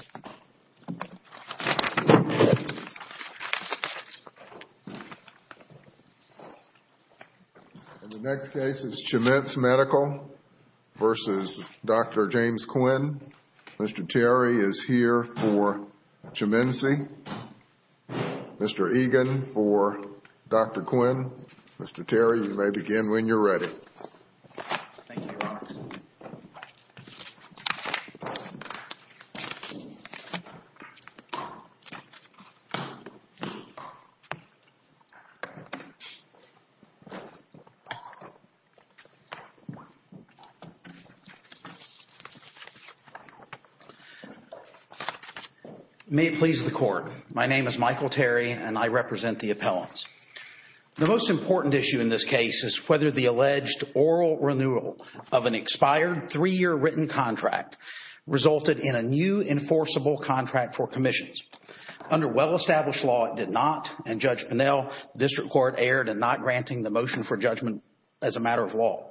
In the next case, it's Chemence Medical v. Dr. James Quinn. Mr. Terry is here for Chemencey, Mr. Egan for Dr. Quinn, Mr. Terry, you may begin when you're ready. May it please the court, my name is Michael Terry and I represent the appellants. The most important issue in this case is whether the alleged oral renewal of an expired three-year written contract resulted in a new enforceable contract for commissions. Under well-established law, it did not and Judge Pinnell, the district court, erred in not granting the motion for judgment as a matter of law.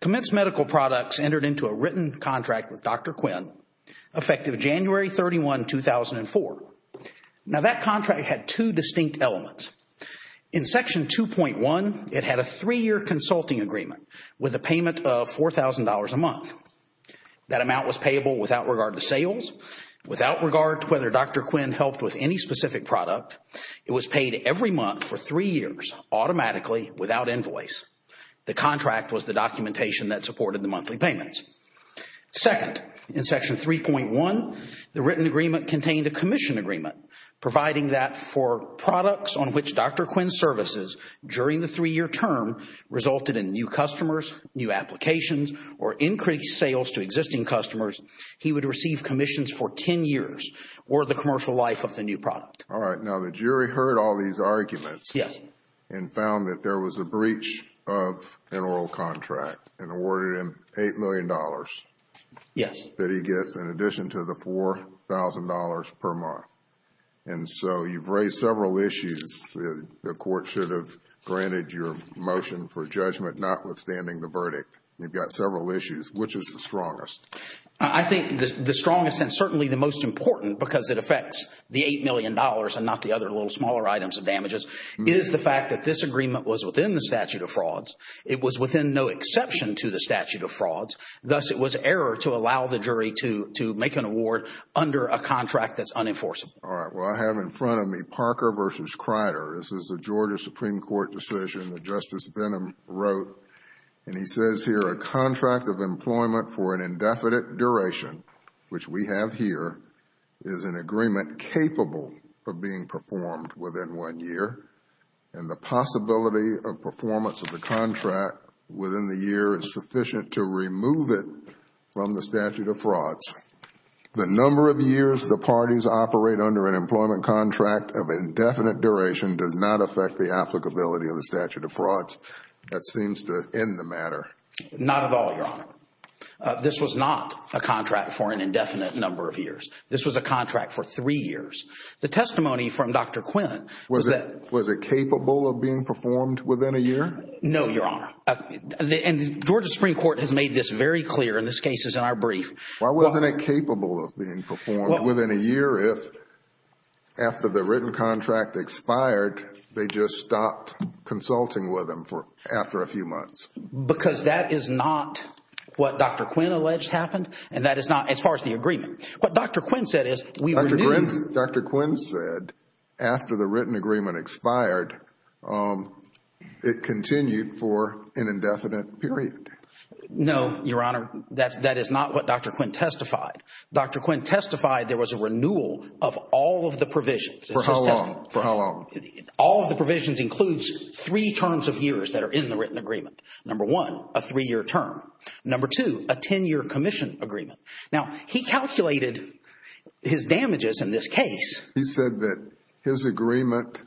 Chemence Medical Products entered into a written contract with Dr. Quinn effective January 31, 2004. Now, that contract had two distinct elements. In Section 2.1, it had a three-year consulting agreement with a payment of $4,000 a month. That amount was payable without regard to sales, without regard to whether Dr. Quinn helped with any specific product. It was paid every month for three years automatically without invoice. The contract was the documentation that supported the monthly payments. Second, in Section 3.1, the written agreement contained a commission agreement providing that for products on which Dr. Quinn's services during the three-year term resulted in new customers, new applications, or increased sales to existing customers, he would receive commissions for 10 years or the commercial life of the new product. All right. Now, the jury heard all these arguments and found that there was a breach of an oral contract and awarded him $8 million that he gets in addition to the $4,000 per month. And so, you've raised several issues. The court should have granted your motion for judgment notwithstanding the verdict. You've got several issues. Which is the strongest? I think the strongest and certainly the most important because it affects the $8 million and not the other little smaller items and damages is the fact that this agreement was within the statute of frauds. It was within no exception to the statute of frauds. Thus, it was error to allow the jury to make an award under a contract that's unenforceable. All right. Well, I have in front of me Parker v. Kreider. This is a Georgia Supreme Court decision that Justice Benham wrote and he says here, a contract of employment for an indefinite duration, which we have here, is an agreement capable of being performed within one year and the possibility of performance of the contract within the year is sufficient to remove it from the statute of frauds. The number of years the parties operate under an employment contract of indefinite duration does not affect the applicability of the statute of frauds. That seems to end the matter. Not at all, Your Honor. This was a contract for three years. The testimony from Dr. Quinn was that... Was it capable of being performed within a year? No, Your Honor, and the Georgia Supreme Court has made this very clear and this case is in our brief. Why wasn't it capable of being performed within a year if, after the written contract expired, they just stopped consulting with them after a few months? Because that is not what Dr. Quinn alleged happened and that is not as far as the agreement. What Dr. Quinn said is... Dr. Quinn said, after the written agreement expired, it continued for an indefinite period. No, Your Honor, that is not what Dr. Quinn testified. Dr. Quinn testified there was a renewal of all of the provisions. For how long? For how long? All of the provisions includes three terms of years that are in the written agreement. Number one, a three-year term. Number two, a 10-year commission agreement. Now, he calculated his damages in this case. He said that his agreement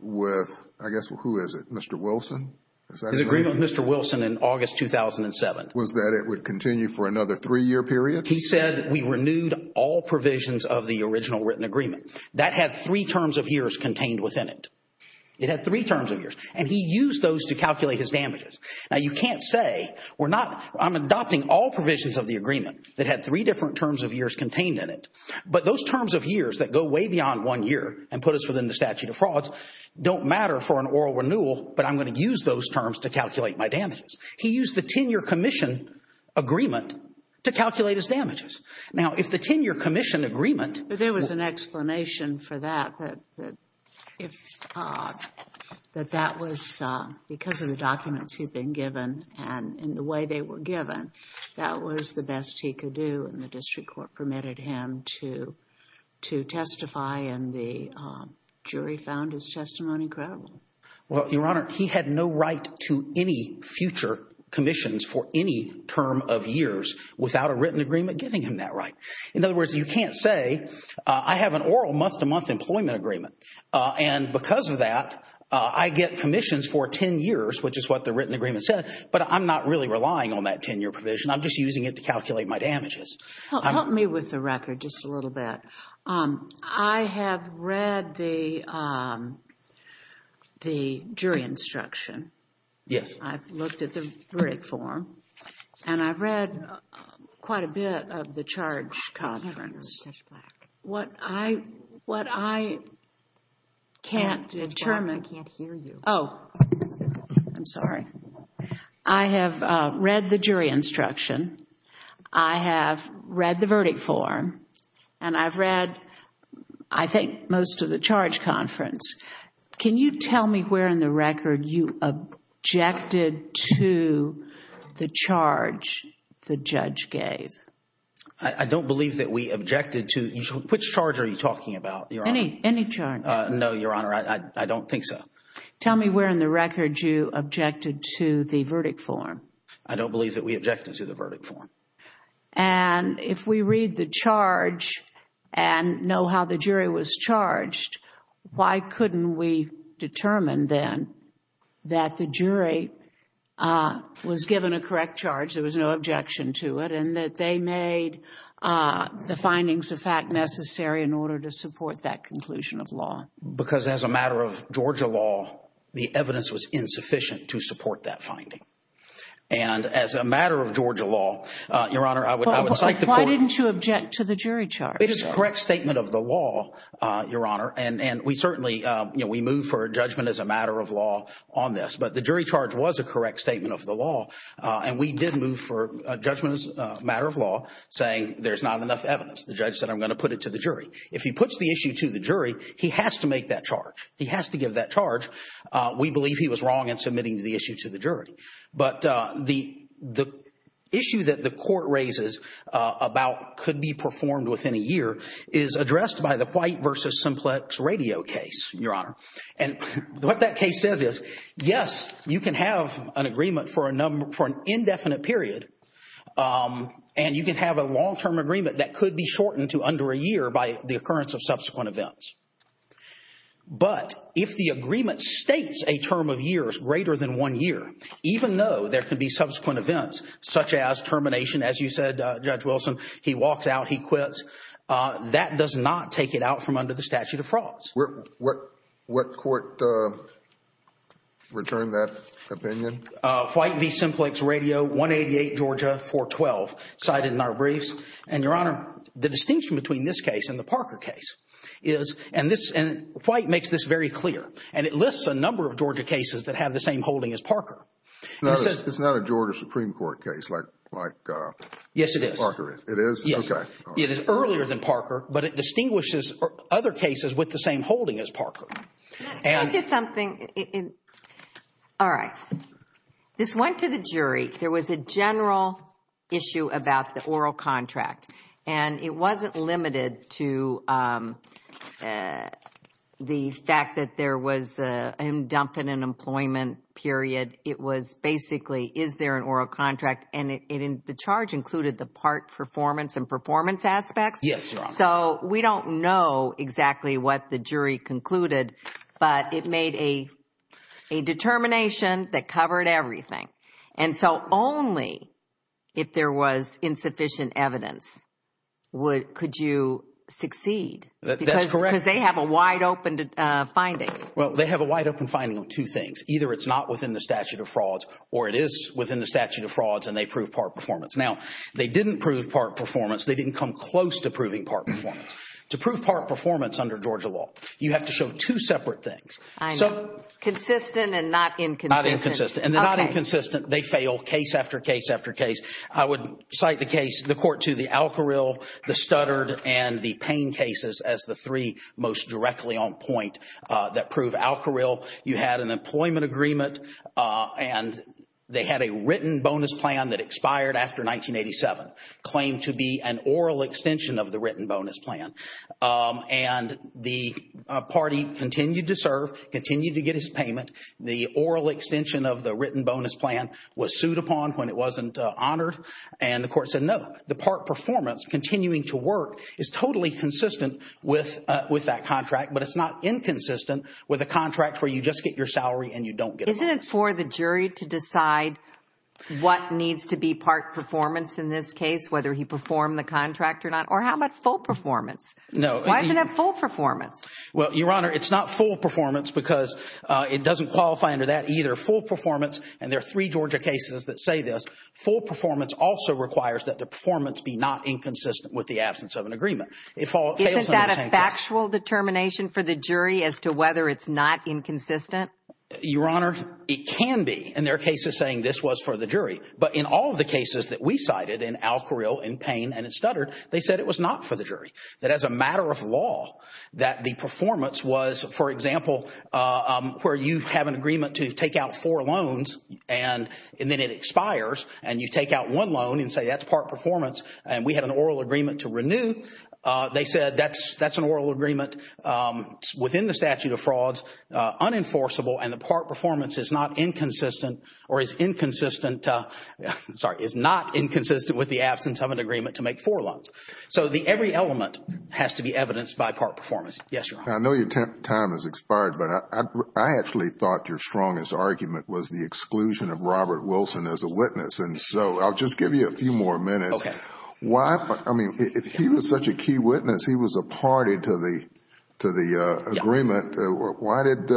with, I guess, who is it, Mr. Wilson? His agreement with Mr. Wilson in August 2007. Was that it would continue for another three-year period? He said we renewed all provisions of the original written agreement. That had three terms of years contained within it. It had three terms of years and he used those to calculate his damages. Now, you can't say, I'm adopting all provisions of the agreement that had three different terms of years contained in it. But those terms of years that go way beyond one year and put us within the statute of frauds don't matter for an oral renewal, but I'm going to use those terms to calculate my damages. He used the 10-year commission agreement to calculate his damages. Now, if the 10-year commission agreement... Well, Your Honor, he had no right to any future commissions for any term of years without a written agreement giving him that right. In other words, you can't say, I have an oral month-to-month employment agreement and because of that, I get commissions for 10 years, which is what the written agreement said, but I'm not really relying on that 10-year provision, I'm just using it to calculate my damages. Help me with the record just a little bit. I have read the jury instruction. Yes. I've looked at the verdict form and I've read quite a bit of the charge conference. Judge Black, I can't hear you. Oh, I'm sorry. I have read the jury instruction. I have read the verdict form and I've read, I think, most of the charge conference. Can you tell me where in the record you objected to the charge the judge gave? I don't believe that we objected to... Which charge are you talking about, Your Honor? Any charge. No, Your Honor, I don't think so. Tell me where in the record you objected to the verdict form. I don't believe that we objected to the verdict form. And if we read the charge and know how the jury was charged, why couldn't we determine then that the jury was given a correct charge, there was no objection to it, and that they made the findings of fact necessary in order to support that conclusion of law? Because as a matter of Georgia law, the evidence was insufficient to support that finding. And as a matter of Georgia law, Your Honor, I would cite the court... Why didn't you object to the jury charge? It is a correct statement of the law, Your Honor, and we certainly, you know, we move for a judgment as a matter of law on this. But the jury charge was a correct statement of the law, and we did move for a judgment as a matter of law saying there's not enough evidence. The judge said I'm going to put it to the jury. If he puts the issue to the jury, he has to make that charge. He has to give that charge. We believe he was wrong in submitting the issue to the jury. But the issue that the court raises about could be performed within a year is addressed by the White v. Simplex Radio case, Your Honor. And what that case says is, yes, you can have an agreement for an indefinite period, and you can have a long-term agreement that could be shortened to under a year by the occurrence of subsequent events. But if the agreement states a term of years greater than one year, even though there could be subsequent events, such as termination, as you said, Judge Wilson, he walks out, he quits, that does not take it out from under the statute of frauds. What court returned that opinion? White v. Simplex Radio, 188 Georgia, 412, cited in our briefs. And Your Honor, the distinction between this case and the Parker case is, and White makes this very clear, and it lists a number of Georgia cases that have the same holding as Parker. It's not a Georgia Supreme Court case like Parker is. Yes, it is. It is? Okay. Yes, it is. It is earlier than Parker, but it distinguishes other cases with the same holding as Parker. Can I tell you something? All right. This went to the jury. There was a general issue about the oral contract. And it wasn't limited to the fact that there was a dump in an employment period. It was basically, is there an oral contract? And the charge included the part performance and performance aspects? Yes, Your Honor. So, we don't know exactly what the jury concluded, but it made a determination that covered everything. And so, only if there was insufficient evidence could you succeed. That's correct. Because they have a wide open finding. Well, they have a wide open finding of two things. Either it's not within the statute of frauds, or it is within the statute of frauds, and they prove part performance. Now, they didn't prove part performance. They didn't come close to proving part performance. To prove part performance under Georgia law, you have to show two separate things. I know. Consistent and not inconsistent. Not inconsistent. And they're not inconsistent. They fail case after case after case. I would cite the case, the Court to the Alcoril, the Studdard, and the Payne cases as the three most directly on point that prove Alcoril. Alcoril, you had an employment agreement, and they had a written bonus plan that expired after 1987, claimed to be an oral extension of the written bonus plan. And the party continued to serve, continued to get his payment. The oral extension of the written bonus plan was sued upon when it wasn't honored. And the Court said no. The part performance, continuing to work, is totally consistent with that contract. But it's not inconsistent with a contract where you just get your salary and you don't get a bonus. Isn't it for the jury to decide what needs to be part performance in this case, whether he performed the contract or not? Or how about full performance? No. Why isn't it full performance? Well, Your Honor, it's not full performance because it doesn't qualify under that either. Full performance, and there are three Georgia cases that say this, full performance also requires that the performance be not inconsistent with the absence of an agreement. Isn't that a factual determination for the jury as to whether it's not inconsistent? Your Honor, it can be. And there are cases saying this was for the jury. But in all of the cases that we cited, in Alcoril, in Payne, and in Studdard, they said it was not for the jury. That as a matter of law, that the performance was, for example, where you have an agreement to take out four loans, and then it expires, and you take out one loan and say that's part performance, and we had an oral agreement to renew. They said that's an oral agreement within the statute of frauds, unenforceable, and the part performance is not inconsistent with the absence of an agreement to make four loans. So every element has to be evidenced by part performance. Yes, Your Honor. I know your time has expired, but I actually thought your strongest argument was the exclusion of Robert Wilson as a witness. And so I'll just give you a few more minutes. Okay. Why, I mean, if he was such a key witness, he was a party to the agreement. Why did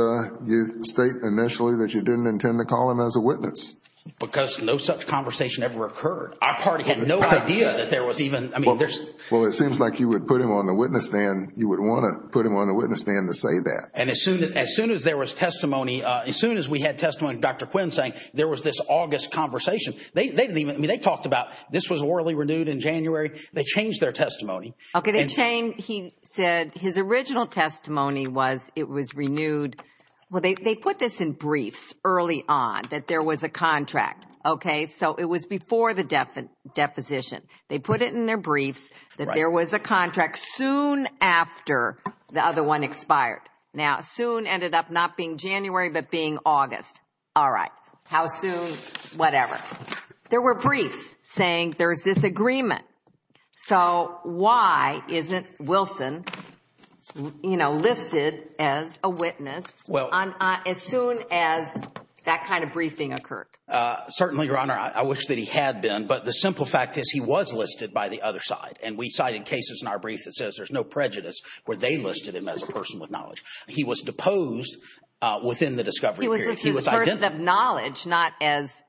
you state initially that you didn't intend to call him as a witness? Because no such conversation ever occurred. Our party had no idea that there was even, I mean, there's... Well, it seems like you would put him on the witness stand, you would want to put him on the witness stand to say that. And as soon as there was testimony, as soon as we had testimony of Dr. Quinn saying there was this August conversation, they didn't even, I mean, they talked about this was orally renewed in January. They changed their testimony. Okay. They changed. He said his original testimony was it was renewed. Well, they put this in briefs early on that there was a contract. Okay. So it was before the deposition. They put it in their briefs that there was a contract soon after the other one expired. Now soon ended up not being January, but being August. All right. How soon, whatever. There were briefs saying there's this agreement. So why isn't Wilson, you know, listed as a witness as soon as that kind of briefing occurred? Certainly, Your Honor, I wish that he had been. But the simple fact is he was listed by the other side. And we cited cases in our brief that says there's no prejudice where they listed him as a person with knowledge. He was deposed within the discovery period. He was a person of knowledge, not as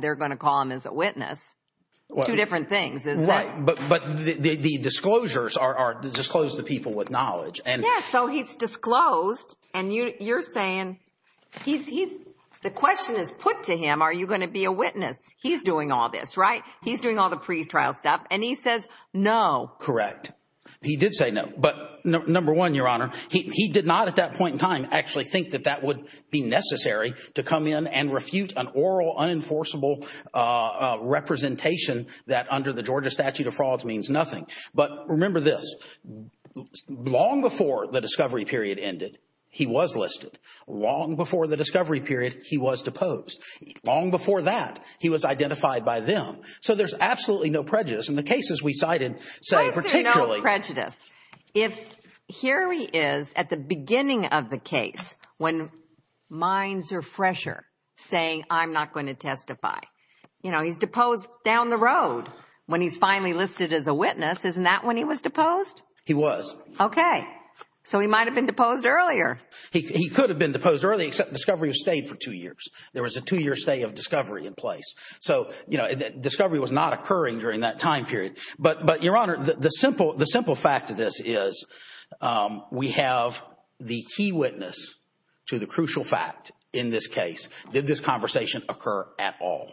they're going to call him as a witness. It's two different things, isn't it? But the disclosures are to disclose the people with knowledge. And so he's disclosed. And you're saying he's he's the question is put to him. Are you going to be a witness? He's doing all this, right? He's doing all the pre-trial stuff. And he says, no, correct. He did say no. But number one, Your Honor, he did not at that point in time actually think that that would be necessary to come in and refute an oral, unenforceable representation that under the Georgia statute of frauds means nothing. But remember this. Long before the discovery period ended, he was listed. Long before the discovery period, he was deposed. Long before that, he was identified by them. So there's absolutely no prejudice in the cases we cited, say, particularly prejudice. If here he is at the beginning of the case, when minds are fresher, saying I'm not going to testify, he's deposed down the road. When he's finally listed as a witness, isn't that when he was deposed? He was. OK. So he might have been deposed earlier. He could have been deposed early, except discovery stayed for two years. There was a two-year stay of discovery in place. So discovery was not occurring during that time period. But Your Honor, the simple fact of this is we have the key witness to the crucial fact in this case. Did this conversation occur at all?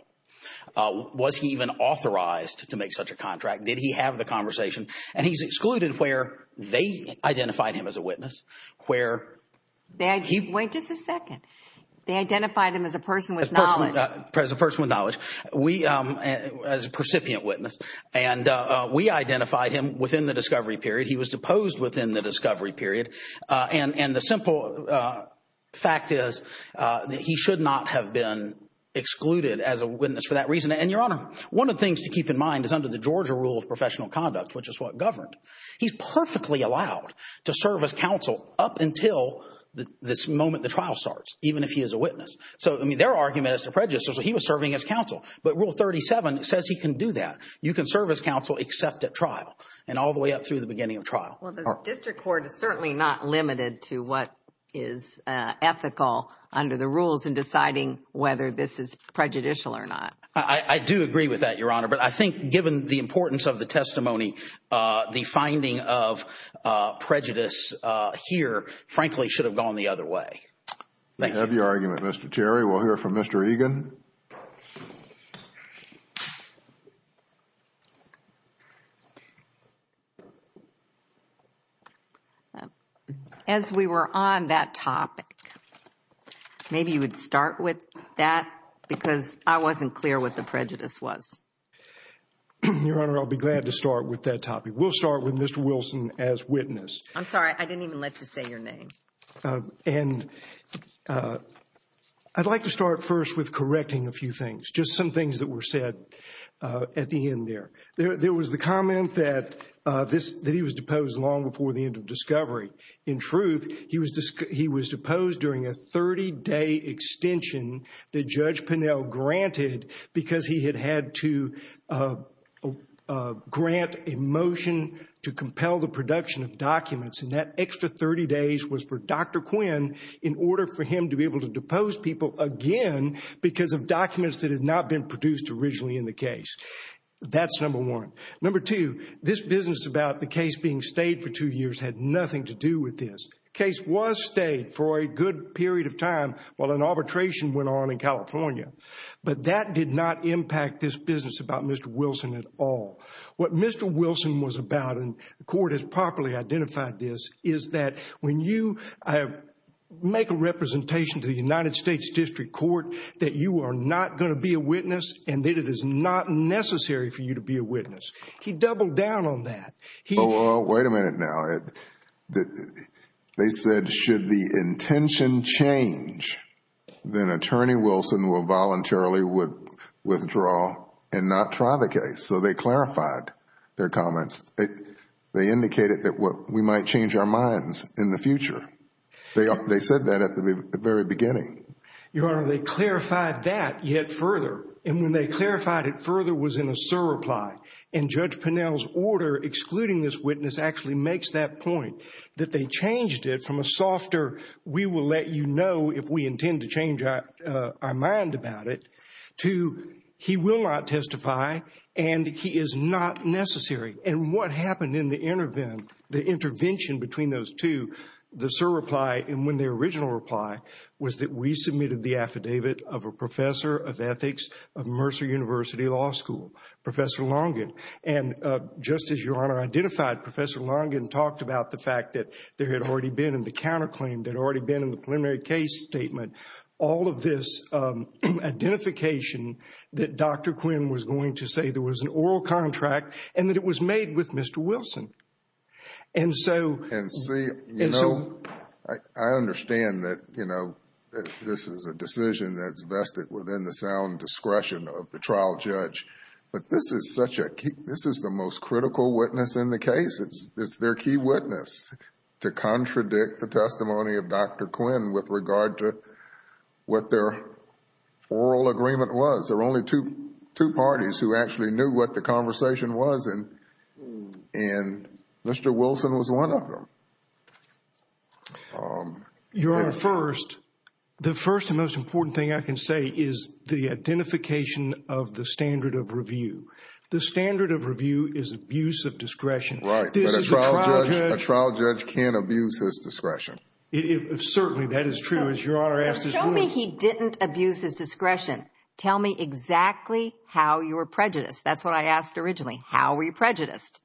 Was he even authorized to make such a contract? Did he have the conversation? And he's excluded where they identified him as a witness, where he- Wait just a second. They identified him as a person with knowledge. As a person with knowledge. We, as a precipient witness, and we identified him within the discovery period. He was deposed within the discovery period. And the simple fact is that he should not have been excluded as a witness for that reason. And Your Honor, one of the things to keep in mind is under the Georgia Rule of Professional Conduct, which is what governed, he's perfectly allowed to serve as counsel up until this So, I mean, their argument is to prejudice, so he was serving as counsel. But Rule 37 says he can do that. You can serve as counsel except at trial. And all the way up through the beginning of trial. Well, the district court is certainly not limited to what is ethical under the rules in deciding whether this is prejudicial or not. I do agree with that, Your Honor. But I think given the importance of the testimony, the finding of prejudice here, frankly, should have gone the other way. Thank you. Thank you for your argument, Mr. Terry. We'll hear from Mr. Egan. As we were on that topic, maybe you would start with that because I wasn't clear what the prejudice was. Your Honor, I'll be glad to start with that topic. We'll start with Mr. Wilson as witness. I'm sorry. I didn't even let you say your name. And I'd like to start first with correcting a few things. Just some things that were said at the end there. There was the comment that he was deposed long before the end of discovery. In truth, he was deposed during a 30-day extension that Judge Pinnell granted because he had had to grant a motion to compel the production of documents. And that extra 30 days was for Dr. Quinn in order for him to be able to depose people again because of documents that had not been produced originally in the case. That's number one. Number two, this business about the case being stayed for two years had nothing to do with this. The case was stayed for a good period of time while an arbitration went on in California. But that did not impact this business about Mr. Wilson at all. What Mr. Wilson was about, and the court has properly identified this, is that when you make a representation to the United States District Court that you are not going to be a witness and that it is not necessary for you to be a witness. He doubled down on that. He- Well, wait a minute now. They said should the intention change, then Attorney Wilson will voluntarily withdraw and not try the case. So they clarified their comments. They indicated that we might change our minds in the future. They said that at the very beginning. Your Honor, they clarified that yet further. And when they clarified it further was in a surreply. And Judge Pinnell's order excluding this witness actually makes that point, that they changed it from a softer, we will let you know if we intend to change our mind about it, to he will not testify and he is not necessary. And what happened in the intervention between those two, the surreply and when the original reply was that we submitted the affidavit of a professor of ethics of Mercer University Law School, Professor Longin. And just as Your Honor identified, Professor Longin talked about the fact that there had already been in the counterclaim, there had already been in the preliminary case statement, all of this identification that Dr. Quinn was going to say there was an oral contract and that it was made with Mr. Wilson. And so- And see, you know, I understand that, you know, this is a decision that's vested within the sound discretion of the trial judge, but this is such a key, this is the most critical witness in the case. It's their key witness to contradict the testimony of Dr. Quinn with regard to what their oral agreement was. There were only two parties who actually knew what the conversation was and Mr. Wilson was one of them. Your Honor, first, the first and most important thing I can say is the identification of the standard of review. The standard of review is abuse of discretion. Right. This is a trial judge- A trial judge can't abuse his discretion. Certainly, that is true, as Your Honor asked as well. So show me he didn't abuse his discretion. Tell me exactly how you were prejudiced. That's what I asked originally. How were you prejudiced?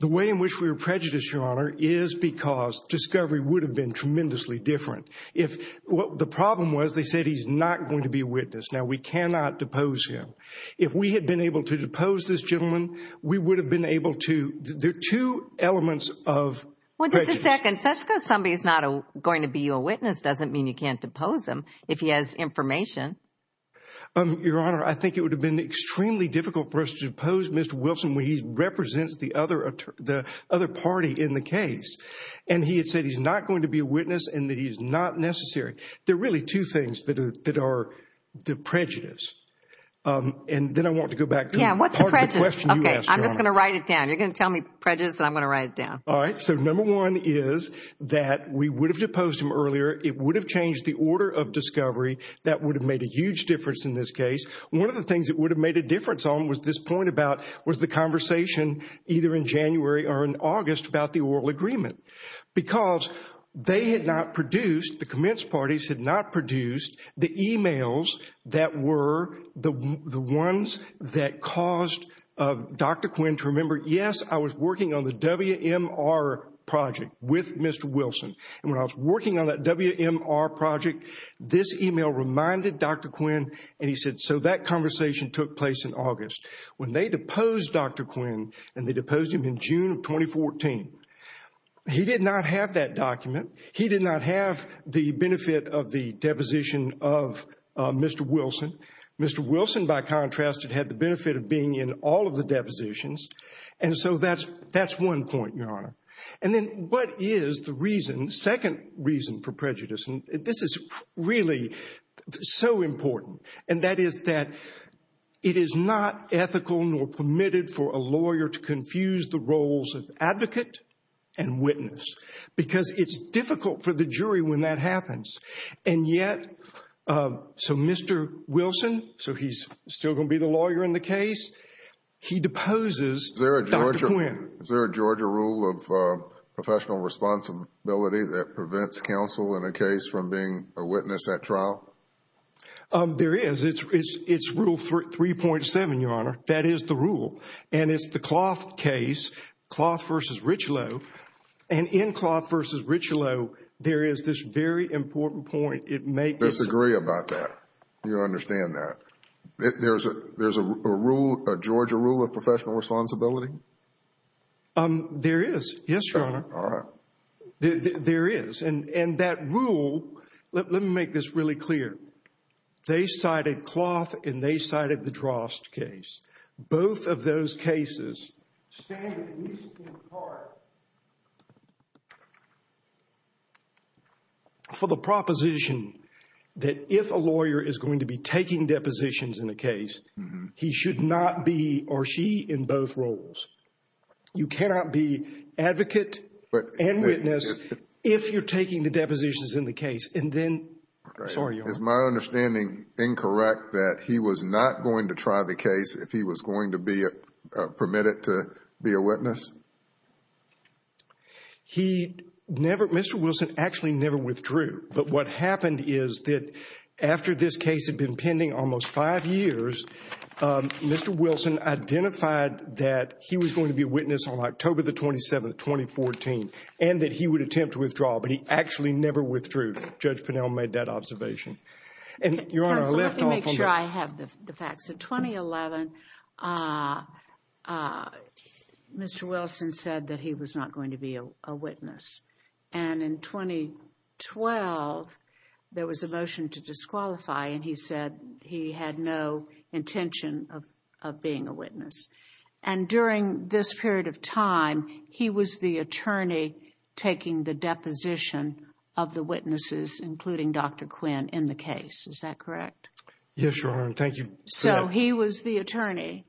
The way in which we were prejudiced, Your Honor, is because discovery would have been tremendously different. If what the problem was, they said he's not going to be a witness. Now, we cannot depose him. If we had been able to depose this gentleman, we would have been able to... There are two elements of prejudice. Wait just a second. Just because somebody is not going to be your witness doesn't mean you can't depose him if he has information. Your Honor, I think it would have been extremely difficult for us to depose Mr. Wilson when he represents the other party in the case. He had said he's not going to be a witness and that he's not necessary. There are really two things that are the prejudice. Then I want to go back to part of the question you asked, Your Honor. Yeah, what's the prejudice? Okay, I'm just going to write it down. You're going to tell me prejudice and I'm going to write it down. All right. So number one is that we would have deposed him earlier. It would have changed the order of discovery. That would have made a huge difference in this case. One of the things it would have made a difference on was this point about was the conversation either in January or in August about the oral agreement. Because they had not produced, the commence parties had not produced the emails that were the ones that caused Dr. Quinn to remember, yes, I was working on the WMR project with Mr. Wilson. When I was working on that WMR project, this email reminded Dr. Quinn and he said, so that conversation took place in August. When they deposed Dr. Quinn, and they deposed him in June of 2014, he did not have that document. He did not have the benefit of the deposition of Mr. Wilson. Mr. Wilson, by contrast, had the benefit of being in all of the depositions. And so that's one point, Your Honor. And then what is the reason, second reason for prejudice, and this is really so important, and that is that it is not ethical nor permitted for a lawyer to confuse the roles of advocate and witness. Because it's difficult for the jury when that happens. And yet, so Mr. Wilson, so he's still going to be the lawyer in the case, he deposes Dr. Quinn. Is there a Georgia rule of professional responsibility that prevents counsel in a case from being a witness at trial? There is. It's Rule 3.7, Your Honor. That is the rule. And it's the Cloth case, Cloth v. Richelieu. And in Cloth v. Richelieu, there is this very important point. It makes- I disagree about that. You understand that. There's a rule, a Georgia rule of professional responsibility? There is. Yes, Your Honor. All right. There is. And that rule, let me make this really clear. They cited Cloth and they cited the Drost case. Both of those cases stand at least in part for the proposition that if a lawyer is going to be taking depositions in a case, he should not be, or she, in both roles. You cannot be advocate and witness if you're taking the depositions in the case. And then- Sorry, Your Honor. Is my understanding incorrect that he was not going to try the case if he was going to be permitted to be a witness? He never, Mr. Wilson actually never withdrew. But what happened is that after this case had been pending almost five years, Mr. Wilson identified that he was going to be a witness on October the 27th, 2014, and that he would attempt to withdraw. But he actually never withdrew. Judge Pinnell made that observation. And, Your Honor, I left off on that. Counsel, let me make sure I have the facts. In 2011, Mr. Wilson said that he was not going to be a witness. And in 2012, there was a motion to disqualify and he said he had no intention of being a witness. And during this period of time, he was the attorney taking the deposition of the witnesses, including Dr. Quinn, in the case. Is that correct? Yes, Your Honor. Thank you for that. So, he was the attorney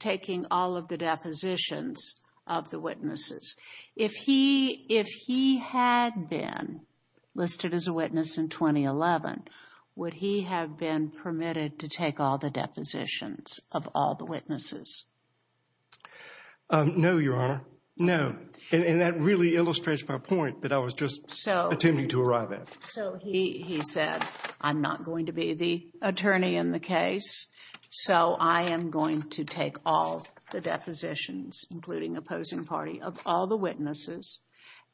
taking all of the depositions of the witnesses. If he had been listed as a witness in 2011, would he have been permitted to take all the witnesses? No, Your Honor. No. And that really illustrates my point that I was just attempting to arrive at. So, he said, I'm not going to be the attorney in the case, so I am going to take all the depositions, including opposing party, of all the witnesses.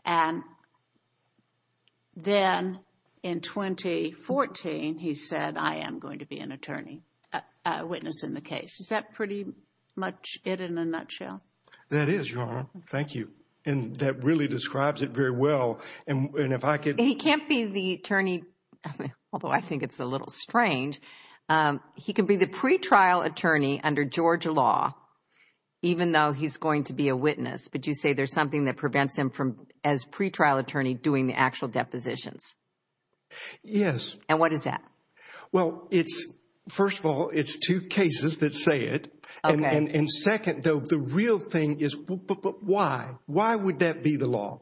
And then, in 2014, he said, I am going to be an attorney, a witness in the case. Is that pretty much it in a nutshell? That is, Your Honor. Thank you. And that really describes it very well. And if I could... He can't be the attorney, although I think it's a little strange. He can be the pretrial attorney under Georgia law, even though he's going to be a witness. But you say there's something that prevents him from, as pretrial attorney, doing the actual depositions. Yes. And what is that? Well, first of all, it's two cases that say it. And second, though, the real thing is, but why? Why would that be the law?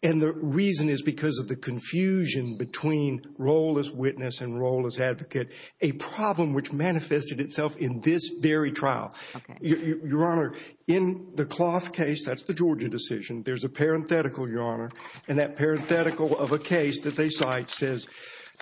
And the reason is because of the confusion between role as witness and role as advocate, a problem which manifested itself in this very trial. Your Honor, in the Cloth case, that's the Georgia decision. There's a parenthetical, Your Honor, and that parenthetical of a case that they cite says,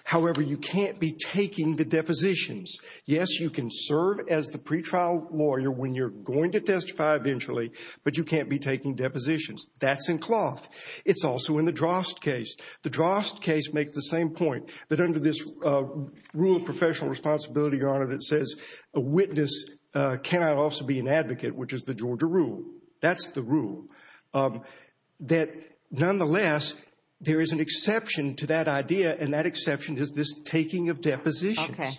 However, you can't be taking the depositions. Yes, you can serve as the pretrial lawyer when you're going to testify eventually, but you can't be taking depositions. That's in Cloth. It's also in the Drost case. The Drost case makes the same point, that under this rule of professional responsibility, Your Honor, that says a witness cannot also be an advocate, which is the Georgia rule. That's the rule. That, nonetheless, there is an exception to that idea, and that exception is this taking of depositions. Okay.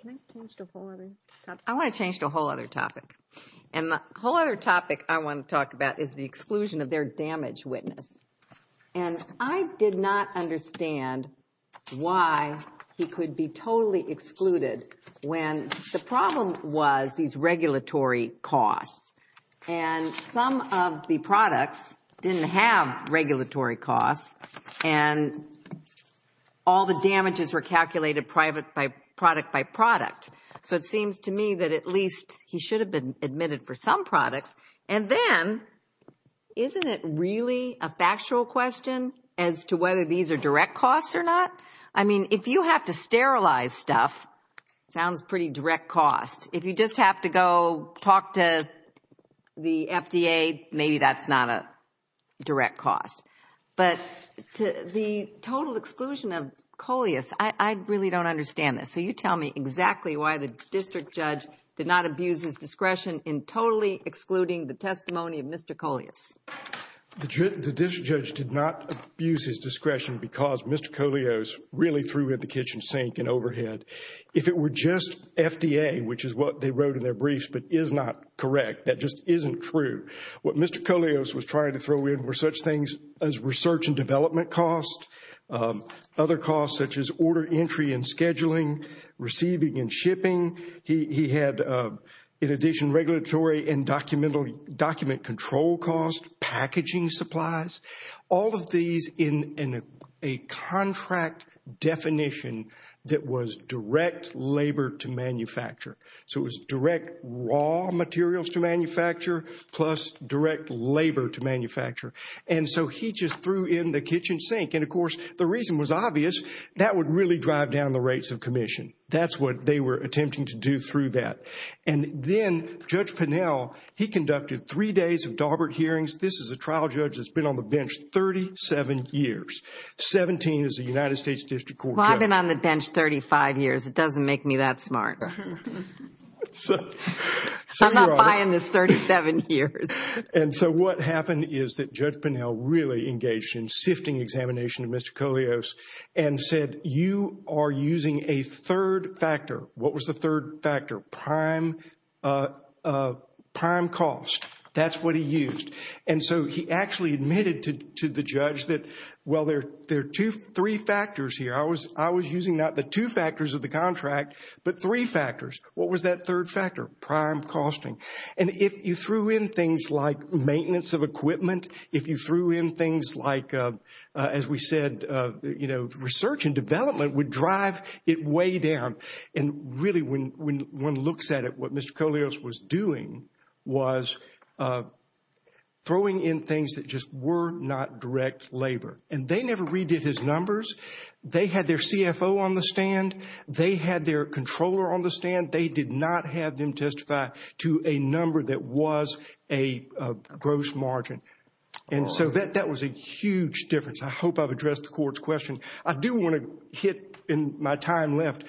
Can I change to a whole other topic? I want to change to a whole other topic. And the whole other topic I want to talk about is the exclusion of their damage witness. And I did not understand why he could be totally excluded when the problem was these regulatory costs. And some of the products didn't have regulatory costs, and all the damages were calculated product by product. So it seems to me that at least he should have been admitted for some products. And then, isn't it really a factual question as to whether these are direct costs or not? I mean, if you have to sterilize stuff, it sounds pretty direct cost. If you just have to go talk to the FDA, maybe that's not a direct cost. But the total exclusion of Coleus, I really don't understand this. So you tell me exactly why the district judge did not abuse his discretion in totally excluding the testimony of Mr. Coleus. The district judge did not abuse his discretion because Mr. Coleus really threw in the kitchen sink and overhead. If it were just FDA, which is what they wrote in their briefs, but is not correct, that just isn't true. What Mr. Coleus was trying to throw in were such things as research and development costs, other costs such as order entry and scheduling, receiving and shipping. He had, in addition, regulatory and document control costs, packaging supplies. All of these in a contract definition that was direct labor to manufacture. So it was direct raw materials to manufacture plus direct labor to manufacture. And so he just threw in the kitchen sink. And of course, the reason was obvious, that would really drive down the rates of commission. That's what they were attempting to do through that. And then, Judge Pinnell, he conducted three days of Darbert hearings. This is a trial judge that's been on the bench 37 years. 17 is a United States District Court judge. Well, I've been on the bench 35 years. It doesn't make me that smart. I'm not buying this 37 years. And so what happened is that Judge Pinnell really engaged in sifting examination of Mr. Coleus and said, you are using a third factor. What was the third factor? Prime cost. That's what he used. And so he actually admitted to the judge that, well, there are three factors here. I was using not the two factors of the contract, but three factors. What was that third factor? Prime costing. And if you threw in things like maintenance of equipment, if you threw in things like, as we said, research and development would drive it way down. And really, when one looks at it, what Mr. Coleus was doing was throwing in things that just were not direct labor. And they never redid his numbers. They had their CFO on the stand. They had their controller on the stand. They did not have them testify to a number that was a gross margin. And so that was a huge difference. I hope I've addressed the court's question. I do want to hit, in my time left,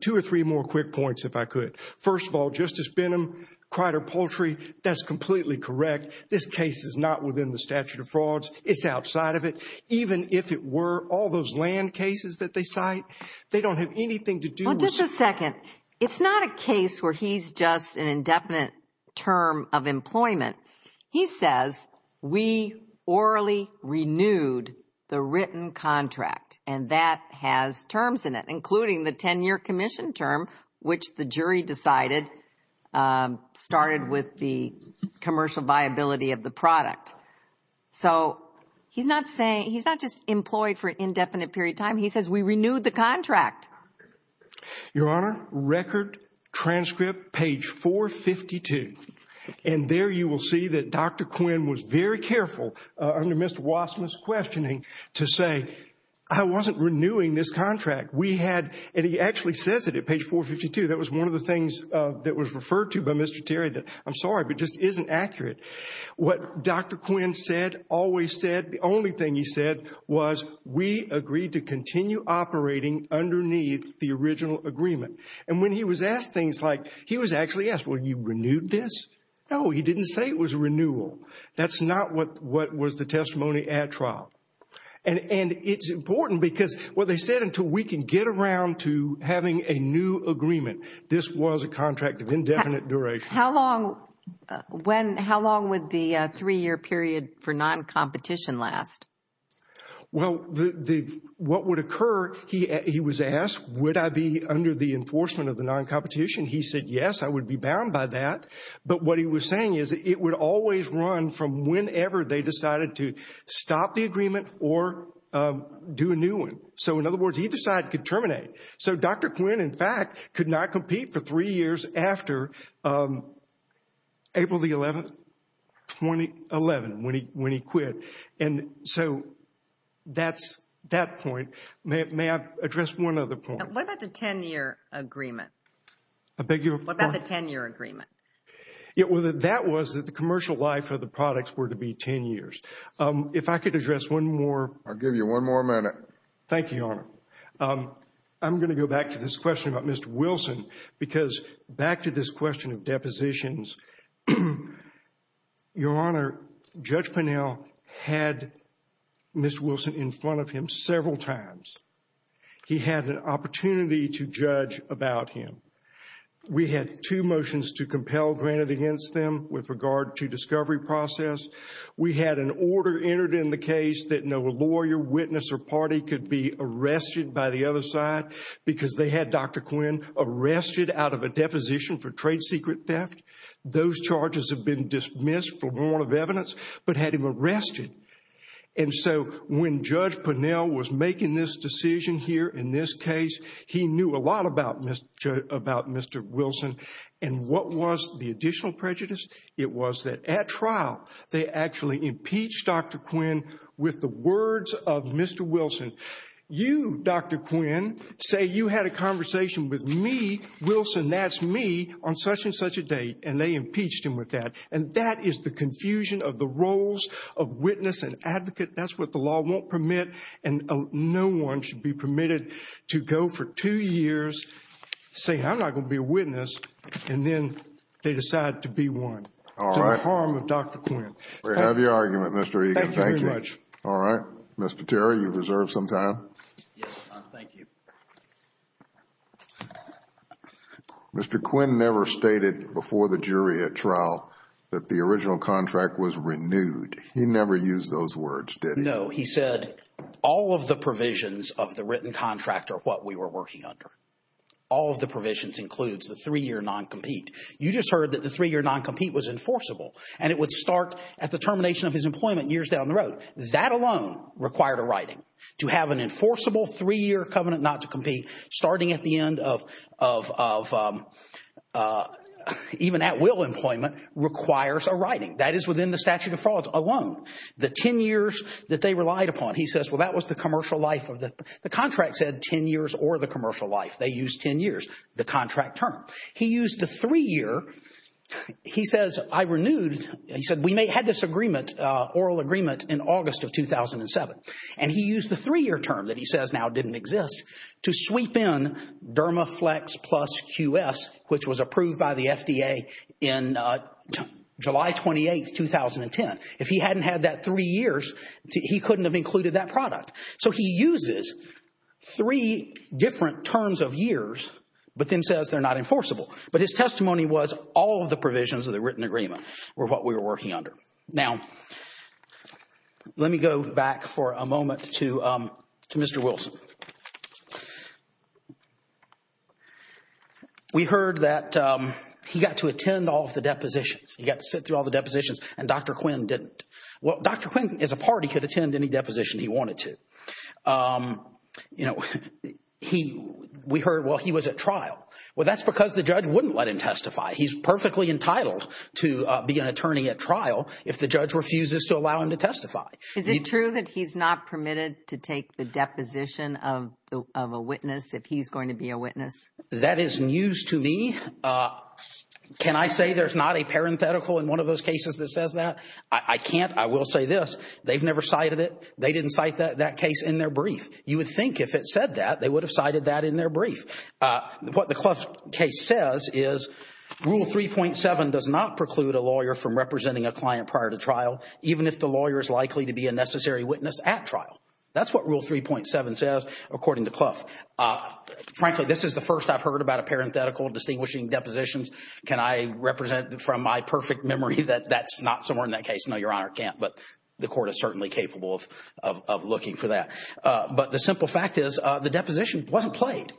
two or three more quick points, if I could. First of all, Justice Benham, Crider Poultry, that's completely correct. This case is not within the statute of frauds. It's outside of it. Even if it were, all those land cases that they cite, they don't have anything to do with- Well, just a second. It's not a case where he's just an indefinite term of employment. He says, we orally renewed the written contract. And that has terms in it, including the 10-year commission term, which the jury decided started with the commercial viability of the product. So he's not just employed for an indefinite period of time. He says, we renewed the contract. Your Honor, record, transcript, page 452. And there you will see that Dr. Quinn was very careful, under Mr. Wasserman's questioning, to say, I wasn't renewing this contract. We had, and he actually says it at page 452. That was one of the things that was referred to by Mr. Terry that, I'm sorry, but just isn't accurate. What Dr. Quinn said, always said, the only thing he said was, we agreed to continue operating underneath the original agreement. And when he was asked things like, he was actually asked, well, you renewed this? No, he didn't say it was a renewal. That's not what was the testimony at trial. And it's important because what they said, until we can get around to having a new agreement, this was a contract of indefinite duration. How long would the three-year period for non-competition last? Well, what would occur, he was asked, would I be under the enforcement of the non-competition? He said, yes, I would be bound by that. But what he was saying is, it would always run from whenever they decided to stop the agreement or do a new one. So in other words, either side could terminate. So Dr. Quinn, in fact, could not compete for three years after April the 11th, 2011, when he quit. And so that's that point. May I address one other point? What about the 10-year agreement? I beg your pardon? What about the 10-year agreement? That was that the commercial life of the products were to be 10 years. If I could address one more. I'll give you one more minute. Thank you, Your Honor. I'm going to go back to this question about Mr. Wilson, because back to this question of depositions, Your Honor, Judge Pinnell had Mr. Wilson in front of him several times. He had an opportunity to judge about him. We had two motions to compel granted against them with regard to discovery process. We had an order entered in the case that no lawyer, witness, or party could be arrested by the other side because they had Dr. Quinn arrested out of a deposition for trade secret theft. Those charges have been dismissed for warrant of evidence, but had him arrested. And so when Judge Pinnell was making this decision here in this case, he knew a lot about Mr. Wilson. And what was the additional prejudice? It was that at trial, they actually impeached Dr. Quinn with the words of Mr. Wilson. You, Dr. Quinn, say you had a conversation with me, Wilson, that's me, on such and such a date, and they impeached him with that. And that is the confusion of the roles of witness and advocate. That's what the law won't permit. And no one should be permitted to go for two years saying, I'm not going to be a witness, and then they decide to be one. All right. To the harm of Dr. Quinn. Great. I love your argument, Mr. Egan. Thank you. Thank you very much. All right. Mr. Terry, you've reserved some time. Yes, Your Honor. Thank you. Mr. Quinn never stated before the jury at trial that the original contract was renewed. He never used those words, did he? No. He said all of the provisions of the written contract are what we were working under. All of the provisions includes the three-year non-compete. You just heard that the three-year non-compete was enforceable, and it would start at the termination of his employment years down the road. That alone required a writing. To have an enforceable three-year covenant not to compete starting at the end of even at-will employment requires a writing. That is within the statute of frauds alone. The ten years that they relied upon, he says, well, that was the commercial life of the contract. The contract said ten years or the commercial life. They used ten years, the contract term. He used the three-year. He says, I renewed, he said, we may have this agreement, oral agreement in August of 2007. And he used the three-year term that he says now didn't exist to sweep in Dermaflex Plus QS, which was approved by the FDA in July 28, 2010. If he hadn't had that three years, he couldn't have included that product. So he uses three different terms of years, but then says they're not enforceable. But his testimony was all of the provisions of the written agreement were what we were working under. Now, let me go back for a moment to Mr. Wilson. We heard that he got to attend all of the depositions. He got to sit through all the depositions and Dr. Quinn didn't. Well, Dr. Quinn, as a part, he could attend any deposition he wanted to. You know, we heard, well, he was at trial. Well, that's because the judge wouldn't let him testify. He's perfectly entitled to be an attorney at trial if the judge refuses to allow him to testify. Is it true that he's not permitted to take the deposition of a witness if he's going to be a witness? That is news to me. Can I say there's not a parenthetical in one of those cases that says that? I can't. I will say this. They've never cited it. They didn't cite that case in their brief. You would think if it said that, they would have cited that in their brief. What the Clough case says is Rule 3.7 does not preclude a lawyer from representing a client prior to trial, even if the lawyer is likely to be a necessary witness at trial. That's what Rule 3.7 says, according to Clough. Frankly, this is the first I've heard about a parenthetical distinguishing depositions. Can I represent from my perfect memory that that's not somewhere in that case? No, Your Honor, can't. But the court is certainly capable of looking for that. But the simple fact is the deposition wasn't played.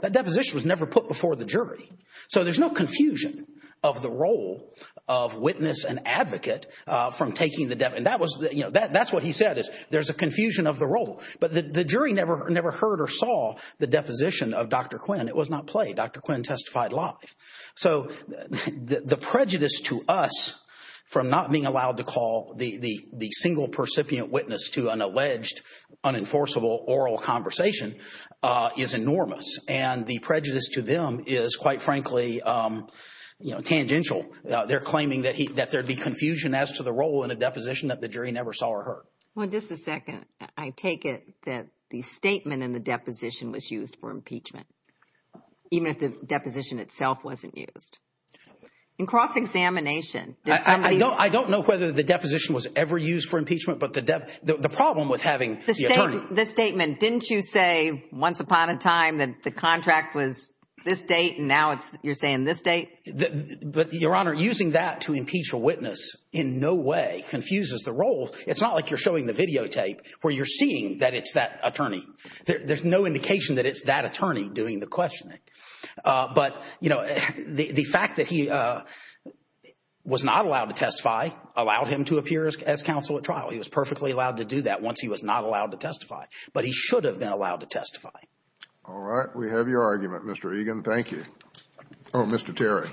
That deposition was never put before the jury. So there's no confusion of the role of witness and advocate from taking the deposition. That's what he said is there's a confusion of the role. But the jury never heard or saw the deposition of Dr. Quinn. It was not played. Dr. Quinn testified live. So the prejudice to us from not being allowed to call the single-percipient witness to an enforceable oral conversation is enormous. And the prejudice to them is, quite frankly, tangential. They're claiming that there'd be confusion as to the role in a deposition that the jury never saw or heard. Well, just a second. I take it that the statement in the deposition was used for impeachment, even if the deposition itself wasn't used. In cross-examination, did somebody... I don't know whether the deposition was ever used for impeachment. The problem with having the attorney... The statement, didn't you say once upon a time that the contract was this date, and now you're saying this date? But Your Honor, using that to impeach a witness in no way confuses the role. It's not like you're showing the videotape where you're seeing that it's that attorney. There's no indication that it's that attorney doing the questioning. But the fact that he was not allowed to testify allowed him to appear as counsel at trial. He was perfectly allowed to do that once he was not allowed to testify. But he should have been allowed to testify. All right. We have your argument, Mr. Egan. Thank you. Oh, Mr. Terry.